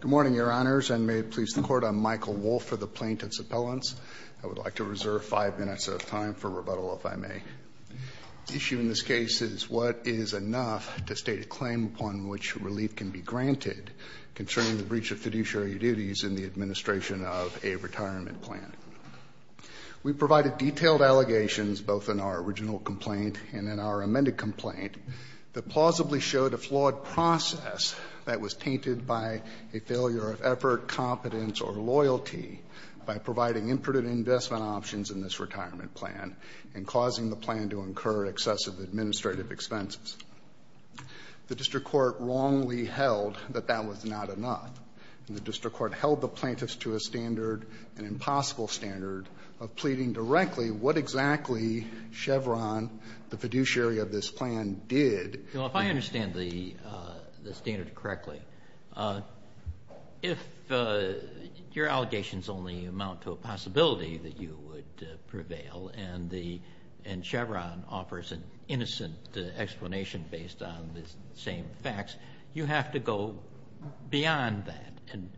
Good morning, Your Honors, and may it please the Court, I'm Michael Wolf for the Plaintiff's Appellants. I would like to reserve five minutes of time for rebuttal, if I may. The issue in this case is what is enough to state a claim upon which relief can be granted concerning the breach of fiduciary duties in the administration of a retirement plan. We've provided detailed allegations, both in our original complaint and in our amended complaint, that plausibly showed a flawed process that was tainted by a failure of effort, competence, or loyalty by providing imprudent investment options in this retirement plan and causing the plan to incur excessive administrative expenses. The district court wrongly held that that was not enough, and the district court held the plaintiffs to a standard, an impossible standard, of pleading directly what exactly Chevron, the fiduciary of this plan, did. Now, if I understand the standard correctly, if your allegations only amount to a possibility that you would prevail and the — and Chevron offers an innocent explanation based on the same facts, you have to go beyond that and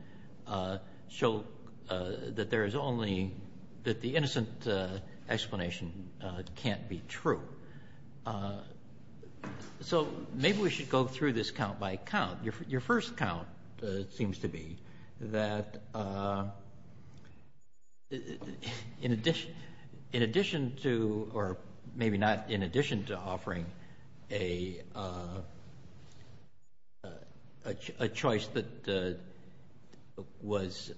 show that there is only — that the innocent explanation can't be true. So maybe we should go through this count by count. Your first count seems to be that in addition to — or maybe not in addition to offering a choice that was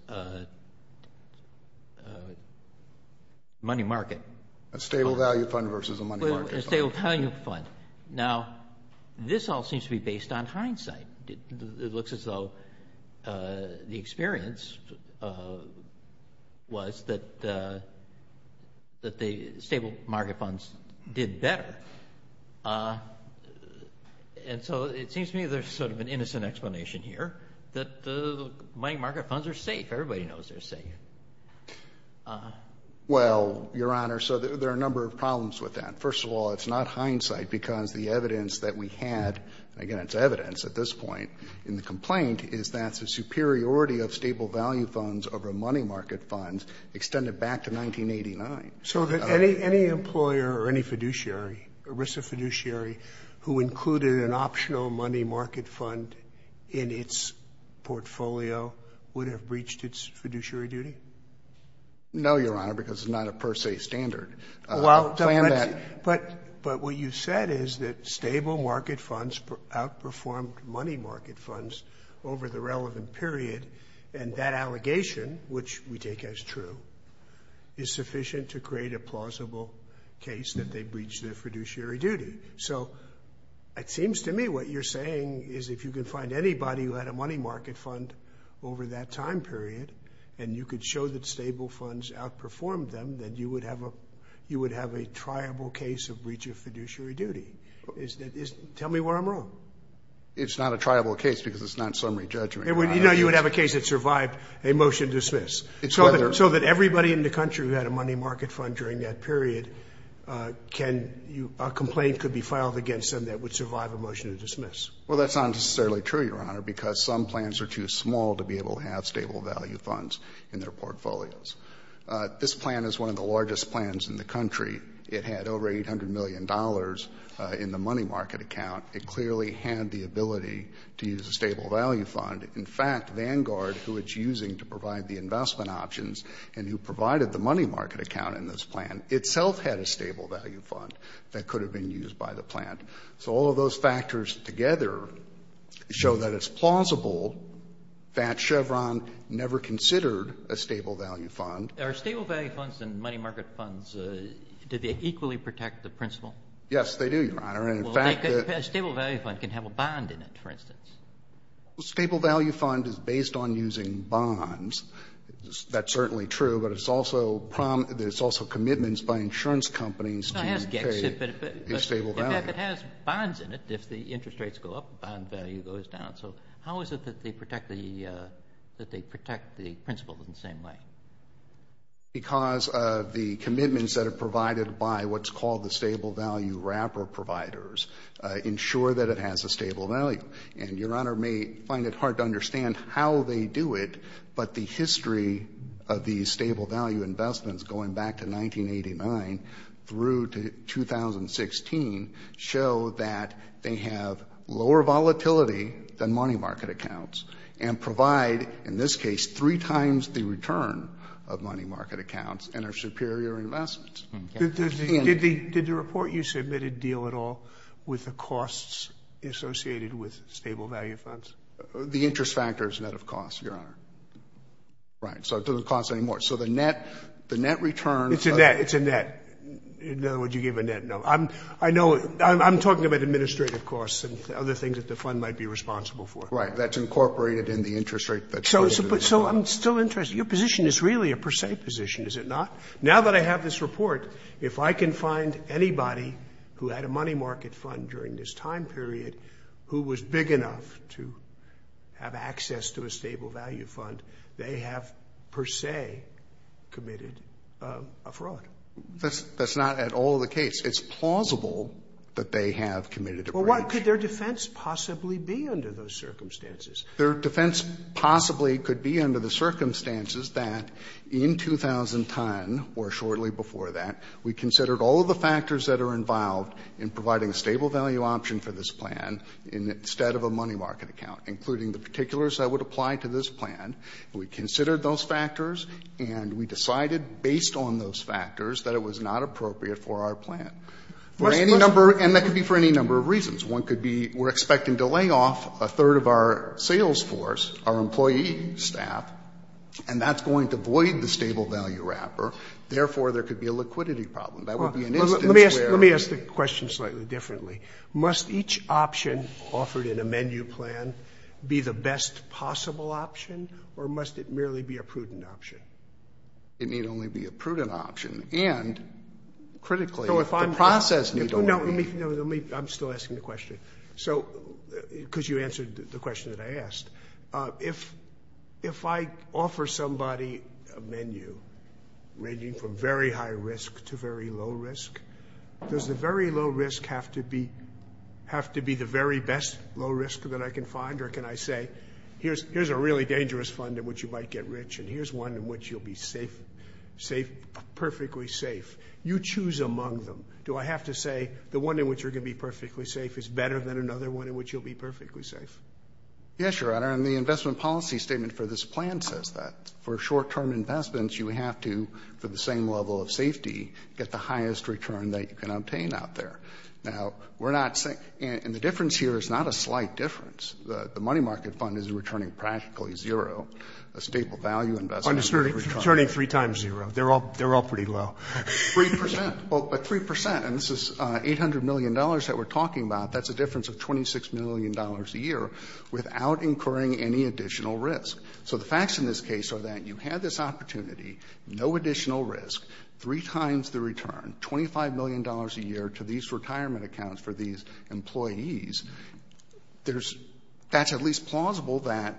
money market. A stable value fund versus a money market fund. A stable value fund. Now, this all seems to be based on hindsight. It looks as though the experience was that the stable market funds did better. And so it seems to me there's sort of an innocent explanation here, that the money market funds are safe. Everybody knows they're safe. Well, Your Honor, so there are a number of problems with that. First of all, it's not hindsight, because the evidence that we had — and again, it's evidence at this point in the complaint — is that the superiority of stable value funds over money market funds extended back to 1989. So that any employer or any fiduciary, ERISA fiduciary, who included an optional money market fund in its portfolio would have breached its fiduciary duty? No, Your Honor, because it's not a per se standard. But what you said is that stable market funds outperformed money market funds over the relevant period, and that allegation, which we take as true, is sufficient to create a plausible case that they breached their fiduciary duty. So it seems to me what you're saying is if you can find anybody who had a money market fund over that time period, and you could show that stable funds outperformed them, then you would have a triable case of breach of fiduciary duty. Tell me where I'm wrong. It's not a triable case because it's not summary judgment. You know you would have a case that survived a motion to dismiss. So that everybody in the country who had a money market fund during that period can — a complaint could be filed against them that would survive a motion to dismiss. Well, that's not necessarily true, Your Honor, because some plans are too small to be able to have stable value funds in their portfolios. This plan is one of the largest plans in the country. It had over $800 million in the money market account. It clearly had the ability to use a stable value fund. In fact, Vanguard, who it's using to provide the investment options and who provided the money market account in this plan, itself had a stable value fund that could have been used by the plan. So all of those factors together show that it's plausible that Chevron never considered a stable value fund. Are stable value funds and money market funds, do they equally protect the principal? Yes, they do, Your Honor. Well, a stable value fund can have a bond in it, for instance. A stable value fund is based on using bonds. That's certainly true, but it's also — there's also commitments by insurance companies to pay a stable value. In fact, it has bonds in it. If the interest rates go up, the bond value goes down. So how is it that they protect the principal in the same way? Because of the commitments that are provided by what's called the stable value wrapper providers ensure that it has a stable value. And Your Honor may find it hard to understand how they do it, but the history of these stable value investments going back to 1989 through to 2016 show that they have lower volatility than money market accounts and provide, in this case, three times the return of money market accounts and are superior investments. Did the report you submitted deal at all with the costs associated with stable value funds? The interest factor is net of cost, Your Honor. Right. So it doesn't cost any more. So the net return of the — It's a net. It's a net. In other words, you gave a net. No. I know — I'm talking about administrative costs and other things that the fund might be responsible for. Right. That's incorporated in the interest rate that's paid to the fund. So I'm still interested. Your position is really a per se position, is it not? Now that I have this report, if I can find anybody who had a money market fund during this time period who was big enough to have access to a stable value fund, they have per se committed a fraud. That's not at all the case. It's plausible that they have committed a breach. Well, what could their defense possibly be under those circumstances? Their defense possibly could be under the circumstances that in 2010 or shortly before that, we considered all of the factors that are involved in providing a stable value option for this plan instead of a money market account, including the particulars that would apply to this plan. We considered those factors, and we decided based on those factors that it was not appropriate for our plan. For any number, and that could be for any number of reasons. One could be we're expecting to lay off a third of our sales force, our employee staff, and that's going to void the stable value wrapper. Therefore, there could be a liquidity problem. That would be an instance where. Let me ask the question slightly differently. Must each option offered in a menu plan be the best possible option, or must it merely be a prudent option? It need only be a prudent option. And critically, the process need only be. No, let me. I'm still asking the question because you answered the question that I asked. If I offer somebody a menu ranging from very high risk to very low risk, does the very low risk have to be the very best low risk that I can find, or can I say here's a really dangerous fund in which you might get rich, and here's one in which you'll be safe, perfectly safe. You choose among them. Do I have to say the one in which you're going to be perfectly safe is better than another one in which you'll be perfectly safe? Yes, Your Honor. And the investment policy statement for this plan says that. For short-term investments, you have to, for the same level of safety, get the highest return that you can obtain out there. Now, we're not saying. And the difference here is not a slight difference. The money market fund is returning practically zero. A staple value investment. Returning three times zero. They're all pretty low. Three percent. But three percent, and this is $800 million that we're talking about, that's a difference of $26 million a year without incurring any additional risk. So the facts in this case are that you had this opportunity, no additional risk, three times the return, $25 million a year to these retirement accounts for these employees. That's at least plausible that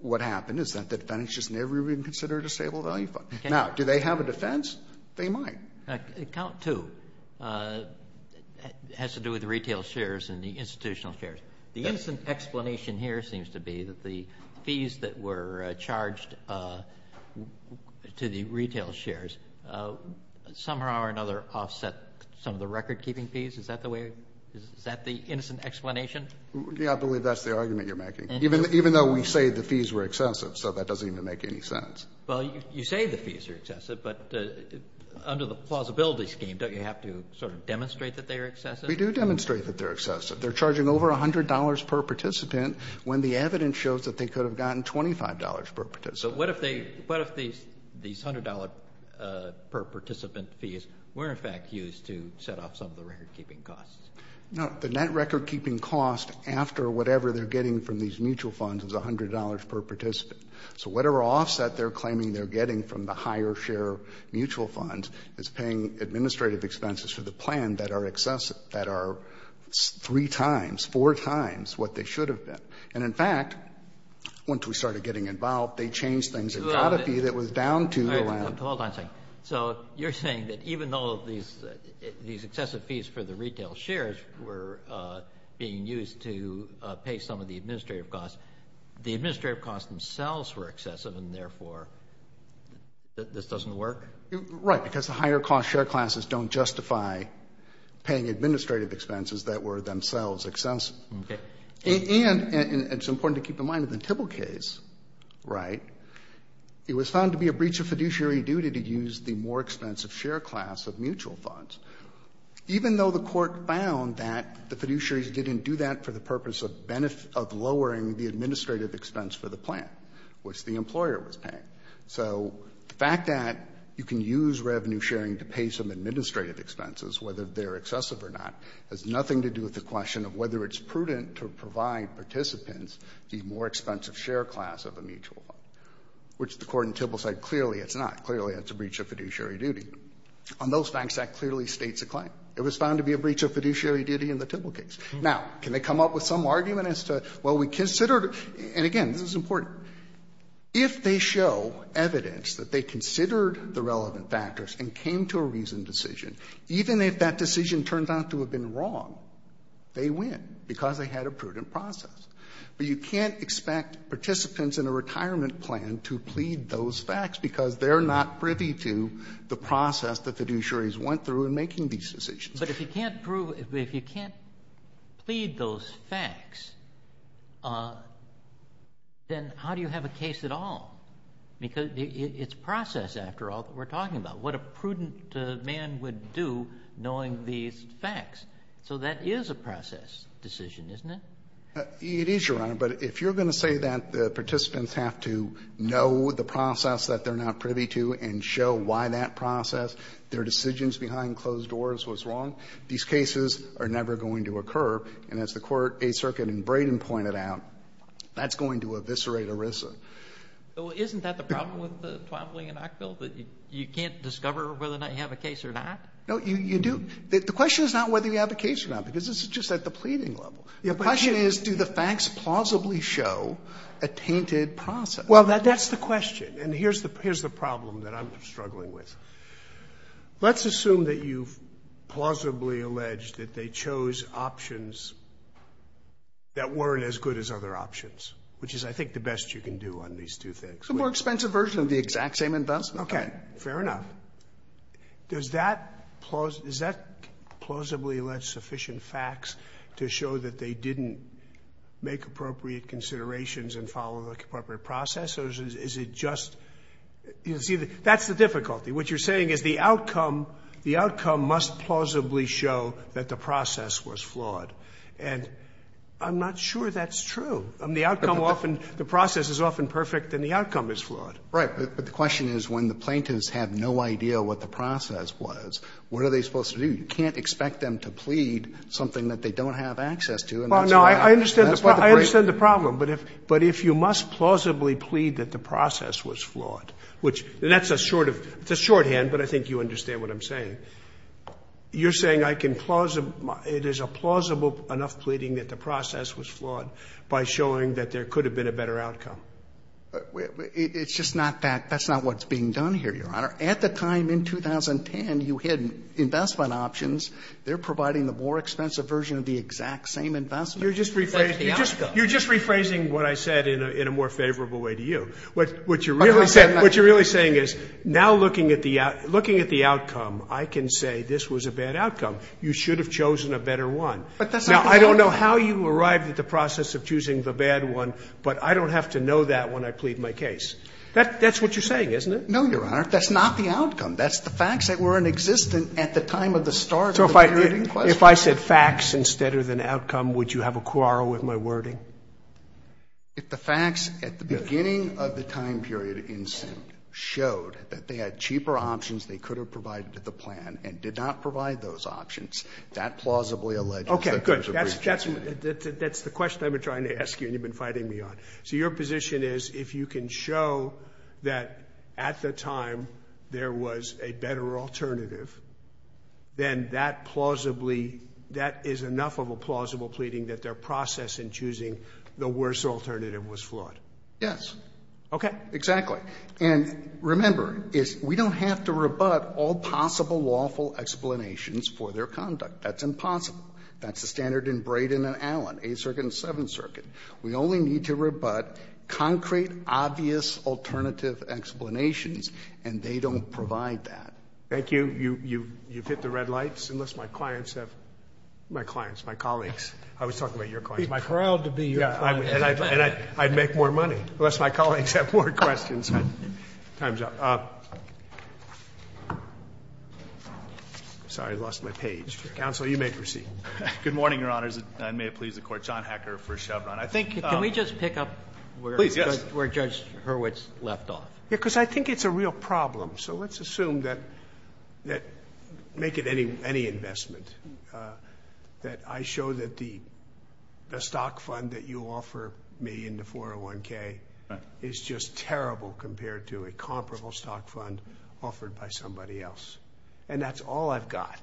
what happened is that the defendants just never even considered a staple value fund. Now, do they have a defense? They might. Account two has to do with the retail shares and the institutional shares. The instant explanation here seems to be that the fees that were charged to the retail shares somehow or another offset some of the record-keeping fees. Is that the way? Is that the instant explanation? Yeah, I believe that's the argument you're making. Even though we say the fees were excessive, so that doesn't even make any sense. Well, you say the fees are excessive, but under the plausibility scheme, don't you have to sort of demonstrate that they are excessive? We do demonstrate that they're excessive. They're charging over $100 per participant when the evidence shows that they could have gotten $25 per participant. But what if these $100 per participant fees were, in fact, used to set off some of the record-keeping costs? No. The net record-keeping cost after whatever they're getting from these mutual funds is $100 per participant. So whatever offset they're claiming they're getting from the higher share mutual funds is paying administrative expenses for the plan that are three times, four times what they should have been. And, in fact, once we started getting involved, they changed things. It got a fee that was down to the land. Hold on a second. So you're saying that even though these excessive fees for the retail shares were being used to pay some of the administrative costs, the administrative costs themselves were excessive and, therefore, this doesn't work? Right. Because the higher cost share classes don't justify paying administrative expenses that were themselves excessive. Okay. And it's important to keep in mind in the Tibble case, right, it was found to be a primary duty to use the more expensive share class of mutual funds, even though the Court found that the fiduciaries didn't do that for the purpose of lowering the administrative expense for the plan, which the employer was paying. So the fact that you can use revenue sharing to pay some administrative expenses, whether they're excessive or not, has nothing to do with the question of whether it's prudent to provide participants the more expensive share class of a mutual fund, which the Court in Tibble said clearly it's not. Clearly, it's a breach of fiduciary duty. On those facts, that clearly states a claim. It was found to be a breach of fiduciary duty in the Tibble case. Now, can they come up with some argument as to, well, we considered it? And, again, this is important. If they show evidence that they considered the relevant factors and came to a reasoned decision, even if that decision turned out to have been wrong, they win because they had a prudent process. But you can't expect participants in a retirement plan to plead those facts because they're not privy to the process that the fiduciaries went through in making these decisions. Kennedy. But if you can't prove or if you can't plead those facts, then how do you have a case at all? Because it's process, after all, that we're talking about. What a prudent man would do knowing these facts. So that is a process decision, isn't it? It is, Your Honor. But if you're going to say that the participants have to know the process that they're not privy to and show why that process, their decisions behind closed doors, was wrong, these cases are never going to occur. And as the Court, Eighth Circuit, and Braden pointed out, that's going to eviscerate ERISA. Well, isn't that the problem with the Twombly and Ockville, that you can't discover whether or not you have a case or not? No, you do. The question is not whether you have a case or not, because this is just at the pleading level. The question is, do the facts plausibly show a tainted process? Well, that's the question. And here's the problem that I'm struggling with. Let's assume that you've plausibly alleged that they chose options that weren't as good as other options, which is, I think, the best you can do on these two things. It's a more expensive version of the exact same investment. Okay. Fair enough. Now, does that plausibly allege sufficient facts to show that they didn't make appropriate considerations and follow the appropriate process, or is it just you see the – that's the difficulty. What you're saying is the outcome, the outcome must plausibly show that the process was flawed. And I'm not sure that's true. I mean, the outcome often, the process is often perfect and the outcome is flawed. Right. But the question is, when the plaintiffs have no idea what the process was, what are they supposed to do? You can't expect them to plead something that they don't have access to. Well, no, I understand the problem. But if you must plausibly plead that the process was flawed, which – and that's a sort of – it's a shorthand, but I think you understand what I'm saying. You're saying I can – it is a plausible enough pleading that the process was flawed by showing that there could have been a better outcome. It's just not that – that's not what's being done here, Your Honor. At the time in 2010, you had investment options. They're providing the more expensive version of the exact same investment. You're just rephrasing what I said in a more favorable way to you. What you're really saying is now looking at the outcome, I can say this was a bad outcome. You should have chosen a better one. But that's not the point. Now, I don't know how you arrived at the process of choosing the bad one, but I don't have to know that when I plead my case. That's what you're saying, isn't it? No, Your Honor. That's not the outcome. That's the facts that were in existence at the time of the start of the wording question. So if I said facts instead of an outcome, would you have a quarrel with my wording? If the facts at the beginning of the time period in Simm showed that they had cheaper options they could have provided to the plan and did not provide those options, that plausibly alleges that there's a breach in Simm. Okay, good. That's the question I've been trying to ask you and you've been fighting me on. So your position is if you can show that at the time there was a better alternative, then that plausibly, that is enough of a plausible pleading that their process in choosing the worse alternative was flawed? Yes. Okay. Exactly. And remember, we don't have to rebut all possible lawful explanations for their conduct. That's impossible. That's the standard in Brayden and Allen, Eighth Circuit and Seventh Circuit. We only need to rebut concrete, obvious alternative explanations, and they don't provide that. Thank you. You've hit the red lights, unless my clients have my clients, my colleagues. I was talking about your clients. Be proud to be your client. And I'd make more money, unless my colleagues have more questions. Time's up. Sorry, I lost my page. Counsel, you may proceed. Good morning, Your Honors. And may it please the Court, John Hacker for Chevron. Can we just pick up where Judge Hurwitz left off? Yes, because I think it's a real problem. So let's assume that, make it any investment, that I show that the stock fund that you offer me in the 401K is just terrible compared to a comparable stock fund offered by somebody else. And that's all I've got.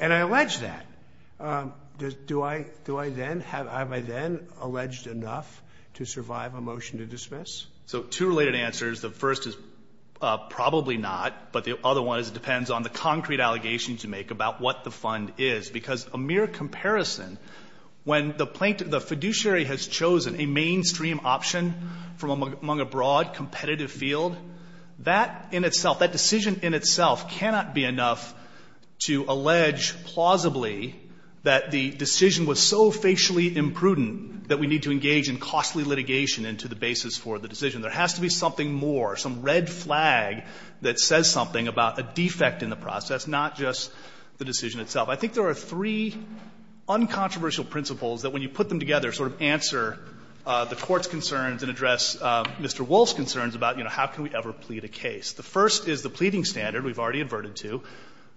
And I allege that. Do I then, have I then alleged enough to survive a motion to dismiss? So two related answers. The first is probably not, but the other one is it depends on the concrete allegations you make about what the fund is. Because a mere comparison, when the fiduciary has chosen a mainstream option from among a broad competitive field, that in itself, that decision in itself cannot be alleged plausibly that the decision was so facially imprudent that we need to engage in costly litigation into the basis for the decision. There has to be something more, some red flag that says something about a defect in the process, not just the decision itself. I think there are three uncontroversial principles that when you put them together sort of answer the Court's concerns and address Mr. Wolff's concerns about, you know, how can we ever plead a case. The first is the pleading standard, we've already adverted to,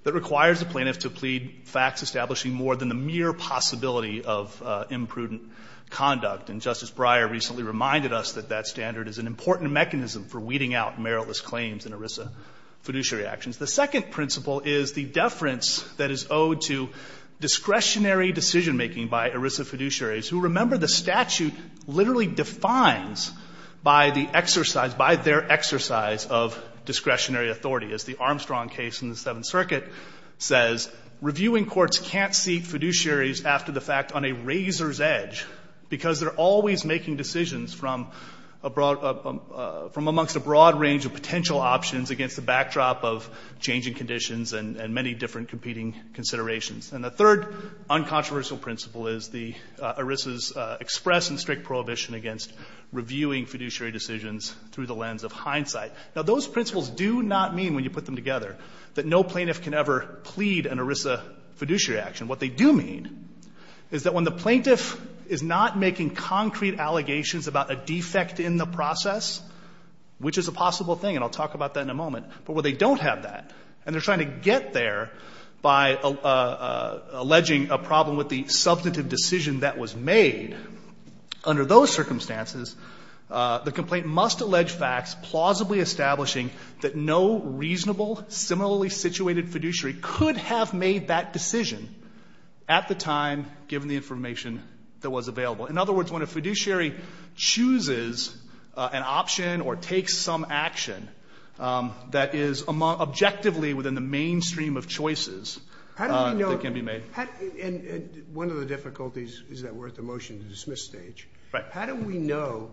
that requires the plaintiff to plead facts establishing more than the mere possibility of imprudent conduct. And Justice Breyer recently reminded us that that standard is an important mechanism for weeding out meritless claims in ERISA fiduciary actions. The second principle is the deference that is owed to discretionary decision-making by ERISA fiduciaries, who, remember, the statute literally defines by the exercise, by their exercise of discretionary authority. As the Armstrong case in the Seventh Circuit says, reviewing courts can't seat fiduciaries after the fact on a razor's edge, because they're always making decisions from a broad of a, from amongst a broad range of potential options against the backdrop of changing conditions and, and many different competing considerations. And the third uncontroversial principle is the ERISA's express and strict prohibition against reviewing fiduciary decisions through the lens of hindsight. Now, those principles do not mean, when you put them together, that no plaintiff can ever plead an ERISA fiduciary action. What they do mean is that when the plaintiff is not making concrete allegations about a defect in the process, which is a possible thing, and I'll talk about that in a moment, but where they don't have that, and they're trying to get there by alleging a problem with the substantive decision that was made, under those circumstances the complaint must allege facts plausibly establishing that no reasonable, similarly situated fiduciary could have made that decision at the time, given the information that was available. In other words, when a fiduciary chooses an option or takes some action that is objectively within the mainstream of choices that can be made. Sotomayor, and one of the difficulties is that we're at the motion to dismiss stage. Right. How do we know,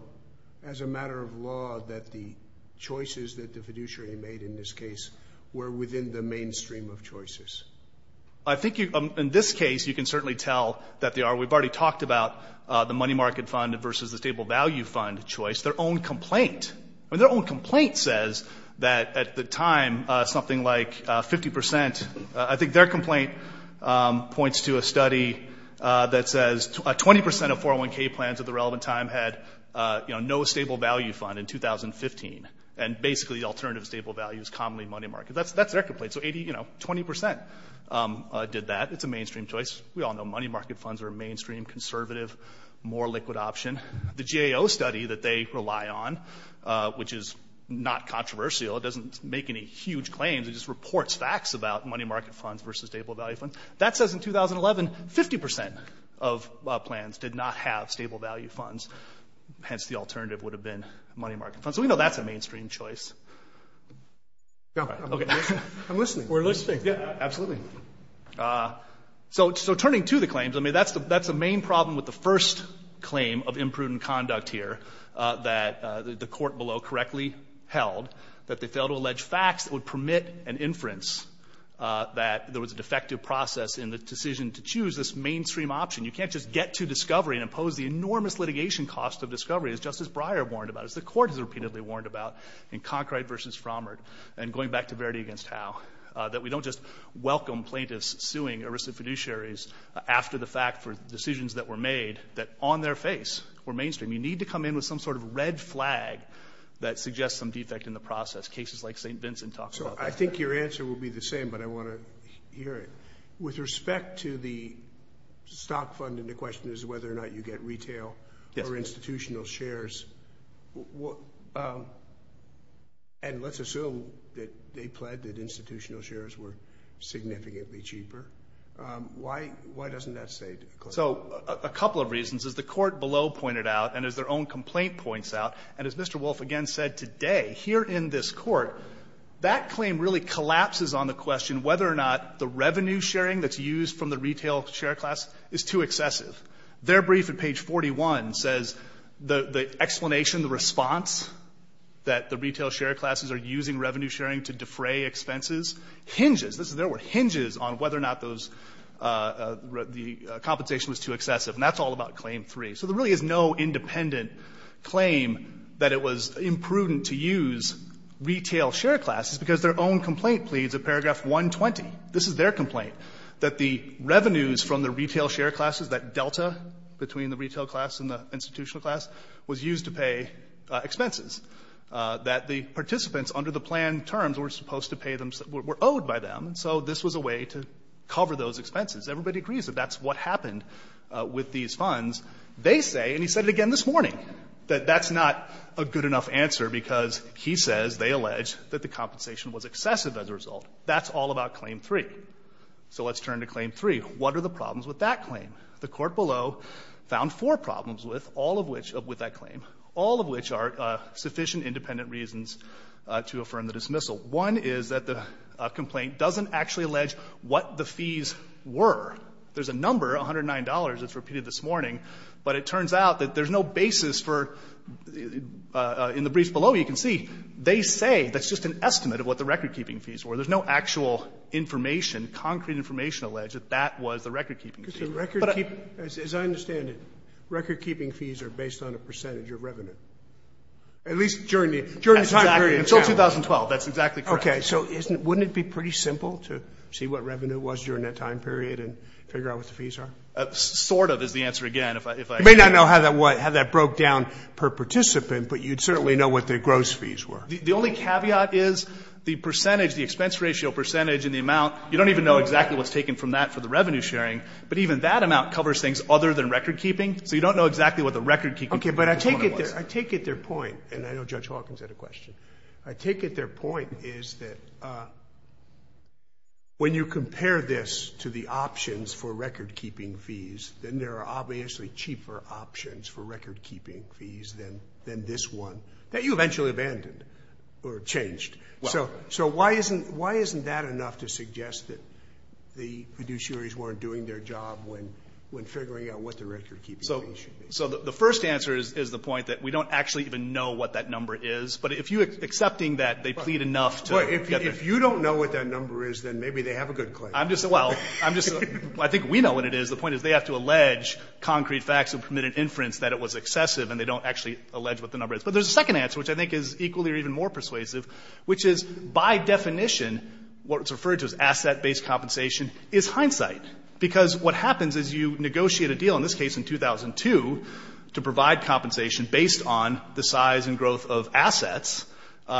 as a matter of law, that the choices that the fiduciary made in this case were within the mainstream of choices? I think in this case you can certainly tell that they are. We've already talked about the money market fund versus the stable value fund choice. Their own complaint, their own complaint says that at the time something like 50 percent, I think their complaint points to a study that says 20 percent of 401K plans at the relevant time had no stable value fund in 2015, and basically alternative stable value is commonly money market. That's their complaint. So, you know, 20 percent did that. It's a mainstream choice. We all know money market funds are a mainstream, conservative, more liquid option. The GAO study that they rely on, which is not controversial, it doesn't make any huge claims, it just reports facts about money market funds versus stable value funds, that says in 2011 50 percent of plans did not have stable value funds, hence the alternative would have been money market funds. So we know that's a mainstream choice. Okay. I'm listening. We're listening. Yeah, absolutely. So turning to the claims, I mean, that's the main problem with the first claim of imprudent conduct here that the court below correctly held, that they failed to allege facts that would permit an inference that there was a defective process in the decision to choose this mainstream option. You can't just get to discovery and impose the enormous litigation cost of discovery, as Justice Breyer warned about, as the court has repeatedly warned about in Concord versus Frommard, and going back to Verdi against Howe, that we don't just welcome plaintiffs suing arrested fiduciaries after the fact for decisions that were made that on their face were mainstream. You need to come in with some sort of red flag that suggests some defect in the process. That's cases like St. Vincent talked about. So I think your answer will be the same, but I want to hear it. With respect to the stock fund, and the question is whether or not you get retail or institutional shares, and let's assume that they pled that institutional shares were significantly cheaper, why doesn't that say differently? So a couple of reasons. As the court below pointed out, and as their own complaint points out, and as Mr. Wolfe again said today, here in this Court, that claim really collapses on the question whether or not the revenue sharing that's used from the retail share class is too excessive. Their brief at page 41 says the explanation, the response, that the retail share classes are using revenue sharing to defray expenses hinges, this is their word, hinges on whether or not those, the compensation was too excessive. And that's all about Claim 3. So there really is no independent claim that it was imprudent to use retail share classes because their own complaint pleads at paragraph 120. This is their complaint, that the revenues from the retail share classes, that delta between the retail class and the institutional class, was used to pay expenses. That the participants under the plan terms were supposed to pay them, were owed by them, so this was a way to cover those expenses. Everybody agrees that that's what happened with these funds. They say, and he said it again this morning, that that's not a good enough answer because he says, they allege, that the compensation was excessive as a result. That's all about Claim 3. So let's turn to Claim 3. What are the problems with that claim? The court below found four problems with all of which, with that claim, all of which are sufficient independent reasons to affirm the dismissal. One is that the complaint doesn't actually allege what the fees were. There's a number, $109, that's repeated this morning, but it turns out that there's no basis for, in the briefs below you can see, they say that's just an estimate of what the recordkeeping fees were. There's no actual information, concrete information, alleged that that was the recordkeeping But I don't think that's true. Scalia, as I understand it, recordkeeping fees are based on a percentage of revenue, at least during the time period. Until 2012, that's exactly correct. Okay, so wouldn't it be pretty simple to see what revenue was during that time period and figure out what the fees are? Sort of, is the answer again. You may not know how that broke down per participant, but you'd certainly know what the gross fees were. The only caveat is the percentage, the expense ratio percentage and the amount, you don't even know exactly what's taken from that for the revenue sharing, but even that amount covers things other than recordkeeping, so you don't know exactly what the recordkeeping Okay, but I take it they're point, and I know Judge Hawkins had a question. I take it their point is that when you compare this to the options for recordkeeping fees, then there are obviously cheaper options for recordkeeping fees than this one that you eventually abandoned or changed. So why isn't that enough to suggest that the fiduciaries weren't doing their job when figuring out what the recordkeeping fees should be? So the first answer is the point that we don't actually even know what that number is, but if you're accepting that they plead enough to get the... Well, if you don't know what that number is, then maybe they have a good claim. I'm just, well, I'm just, I think we know what it is. The point is they have to allege concrete facts of permitted inference that it was excessive, and they don't actually allege what the number is. But there's a second answer, which I think is equally or even more persuasive, which is by definition what's referred to as asset-based compensation is hindsight, because what happens is you negotiate a deal, in this case in 2002, to provide compensation based on the size and growth of assets.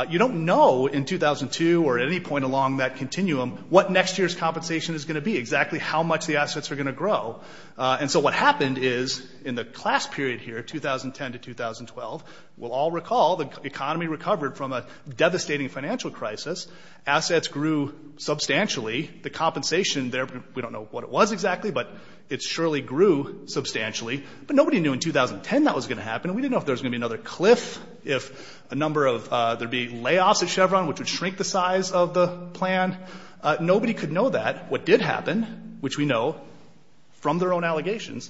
You don't know in 2002 or at any point along that continuum what next year's compensation is going to be, exactly how much the assets are going to grow. And so what happened is in the class period here, 2010 to 2012, we'll all recall the economy recovered from a devastating financial crisis. Assets grew substantially. The compensation there, we don't know what it was exactly, but it surely grew substantially. But nobody knew in 2010 that was going to happen, and we didn't know if there was going to be another cliff, if a number of, there'd be layoffs at Chevron, which would shrink the size of the plan. Nobody could know that. What did happen, which we know from their own allegations,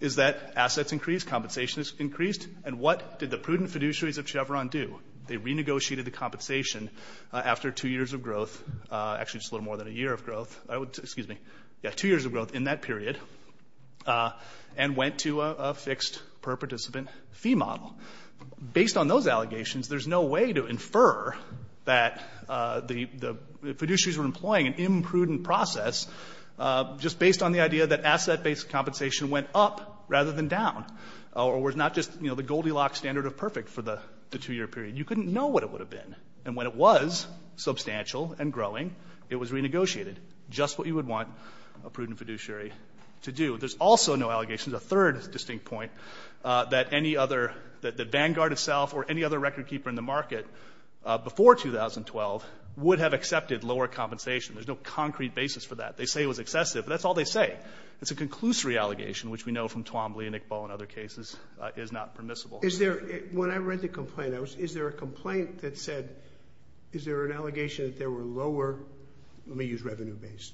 is that assets increased, compensation increased, and what did the prudent fiduciaries of Chevron do? They renegotiated the compensation after two years of growth, actually just a little more than a year of growth, excuse me, two years of growth in that period, and went to a fixed per participant fee model. Based on those allegations, there's no way to infer that the fiduciaries were employing an imprudent process just based on the idea that asset-based compensation went up rather than down, or was not just, you know, the Goldilocks standard of perfect for the two-year period. You couldn't know what it would have been. And when it was substantial and growing, it was renegotiated. Just what you would want a prudent fiduciary to do. There's also no allegations, a third distinct point, that any other, that Vanguard itself or any other record keeper in the market before 2012 would have accepted lower compensation. There's no concrete basis for that. They say it was excessive, but that's all they say. It's a conclusory allegation, which we know from Twombly and Iqbal and other cases is not permissible. Is there, when I read the complaint, I was, is there a complaint that said, is there an allegation that there were lower, let me use revenue-based,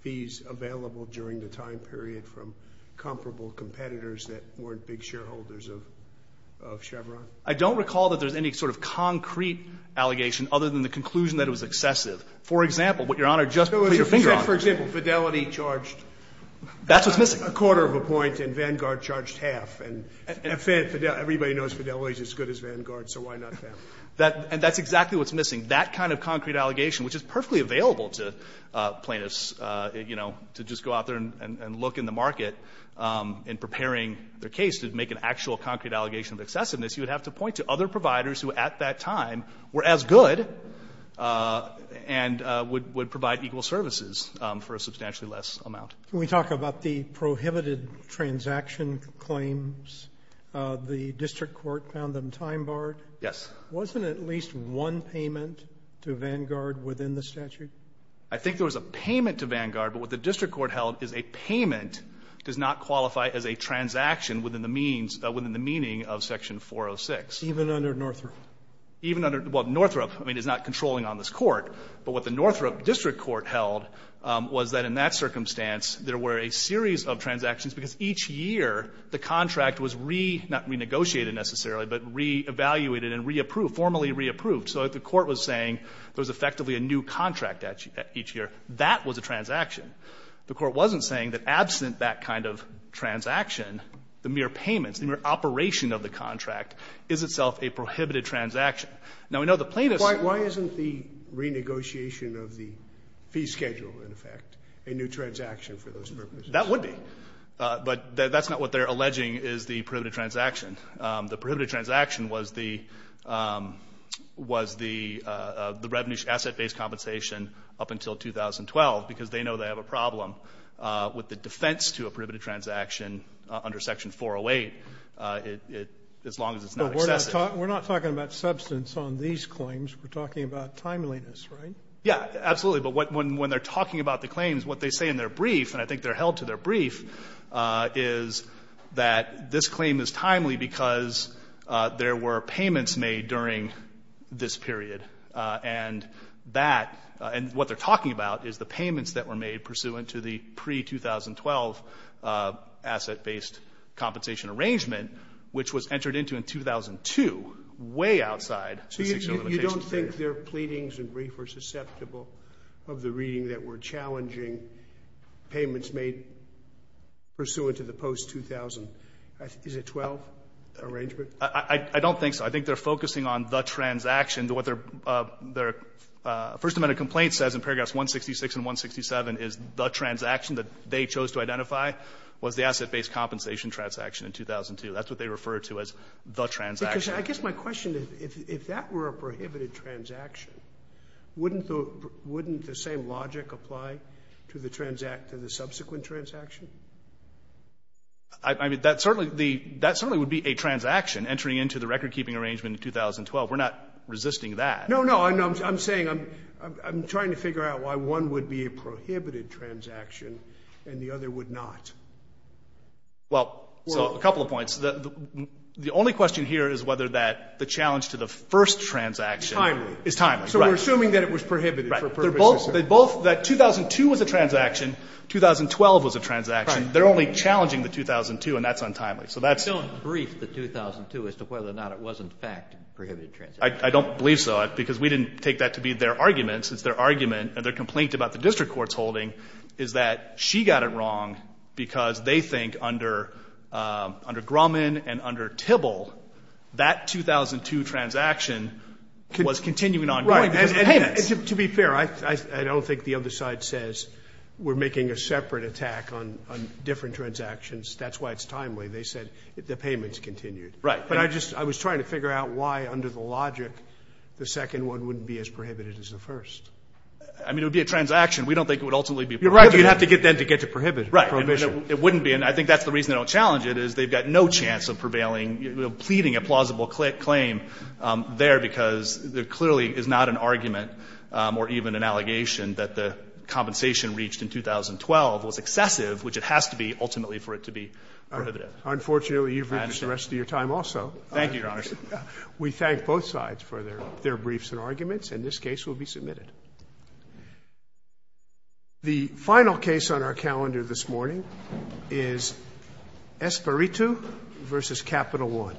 fees available during the time period from comparable competitors that weren't big shareholders of Chevron? I don't recall that there's any sort of concrete allegation other than the conclusion that it was excessive. For example, what Your Honor just put your finger on. For example, Fidelity charged. That's what's missing. A quarter of a point, and Vanguard charged half. And everybody knows Fidelity is as good as Vanguard, so why not them? That, and that's exactly what's missing. That kind of concrete allegation, which is perfectly available to plaintiffs, you know, to just go out there and look in the market in preparing their case to make an actual concrete allegation of excessiveness, you would have to point to other providers who at that time were as good and would provide equal services for a substantially less amount. Roberts. Can we talk about the prohibited transaction claims? The district court found them time-barred? Yes. Wasn't at least one payment to Vanguard within the statute? I think there was a payment to Vanguard. But what the district court held is a payment does not qualify as a transaction within the means, within the meaning of Section 406. Even under Northrop? Even under, well, Northrop, I mean, is not controlling on this court. But what the Northrop district court held was that in that circumstance, there were a series of transactions because each year the contract was re, not renegotiated necessarily, but re-evaluated and re-approved, formally re-approved. So the court was saying there was effectively a new contract at each year. That was a transaction. The court wasn't saying that absent that kind of transaction, the mere payments, the mere operation of the contract is itself a prohibited transaction. Now, we know the plaintiffs are Why isn't the renegotiation of the fee schedule, in effect, a new transaction for those purposes? That would be. But that's not what they're alleging is the prohibited transaction. The prohibited transaction was the revenue asset-based compensation up until 2012 because they know they have a problem with the defense to a prohibited transaction under Section 408 as long as it's not excessive. But we're not talking about substance on these claims. We're talking about timeliness, right? Yeah, absolutely. But when they're talking about the claims, what they say in their brief, and I think they're held to their brief, is that this claim is timely because there were payments made during this period. And that, and what they're talking about is the payments that were made pursuant to the pre-2012 asset-based compensation arrangement, which was entered into in 2002, way outside the 60-year limitation period. So you don't think their pleadings and brief are susceptible of the reading that were challenging payments made pursuant to the post-2000, is it 2012 arrangement? I don't think so. I think they're focusing on the transaction, what their First Amendment complaint says in paragraphs 166 and 167 is the transaction that they chose to identify was the asset-based compensation transaction in 2002. That's what they refer to as the transaction. Because I guess my question is, if that were a prohibited transaction, wouldn't the same logic apply to the subsequent transaction? I mean, that certainly would be a transaction entering into the record-keeping arrangement in 2012. We're not resisting that. No, no, I'm saying, I'm trying to figure out why one would be a prohibited transaction and the other would not. Well, so a couple of points. The only question here is whether the challenge to the first transaction is timely. So we're assuming that it was prohibited for a purpose. That 2002 was a transaction. 2012 was a transaction. They're only challenging the 2002, and that's untimely. So that's... You don't brief the 2002 as to whether or not it was, in fact, a prohibited transaction. I don't believe so, because we didn't take that to be their argument. It's their argument and their complaint about the district court's holding is that she got it wrong because they think under Grumman and under Tibble, that 2002 transaction was continuing on. Right, and to be fair, I don't think the other side says we're making a separate attack on different transactions. That's why it's timely. They said the payment's continued. Right. But I just, I was trying to figure out why, under the logic, the second one wouldn't be as prohibited as the first. I mean, it would be a transaction. We don't think it would ultimately be prohibited. You'd have to get them to get to prohibition. Right, and it wouldn't be. And I think that's the reason they don't challenge it, is they've got no chance of prevailing, pleading a plausible claim there, because there clearly is not an argument or even an allegation that the compensation reached in 2012 was excessive, which it has to be ultimately for it to be prohibited. Unfortunately, you've reached the rest of your time also. Thank you, Your Honors. We thank both sides for their briefs and arguments. And this case will be submitted. The final case on our calendar this morning is Espiritu versus Capital One.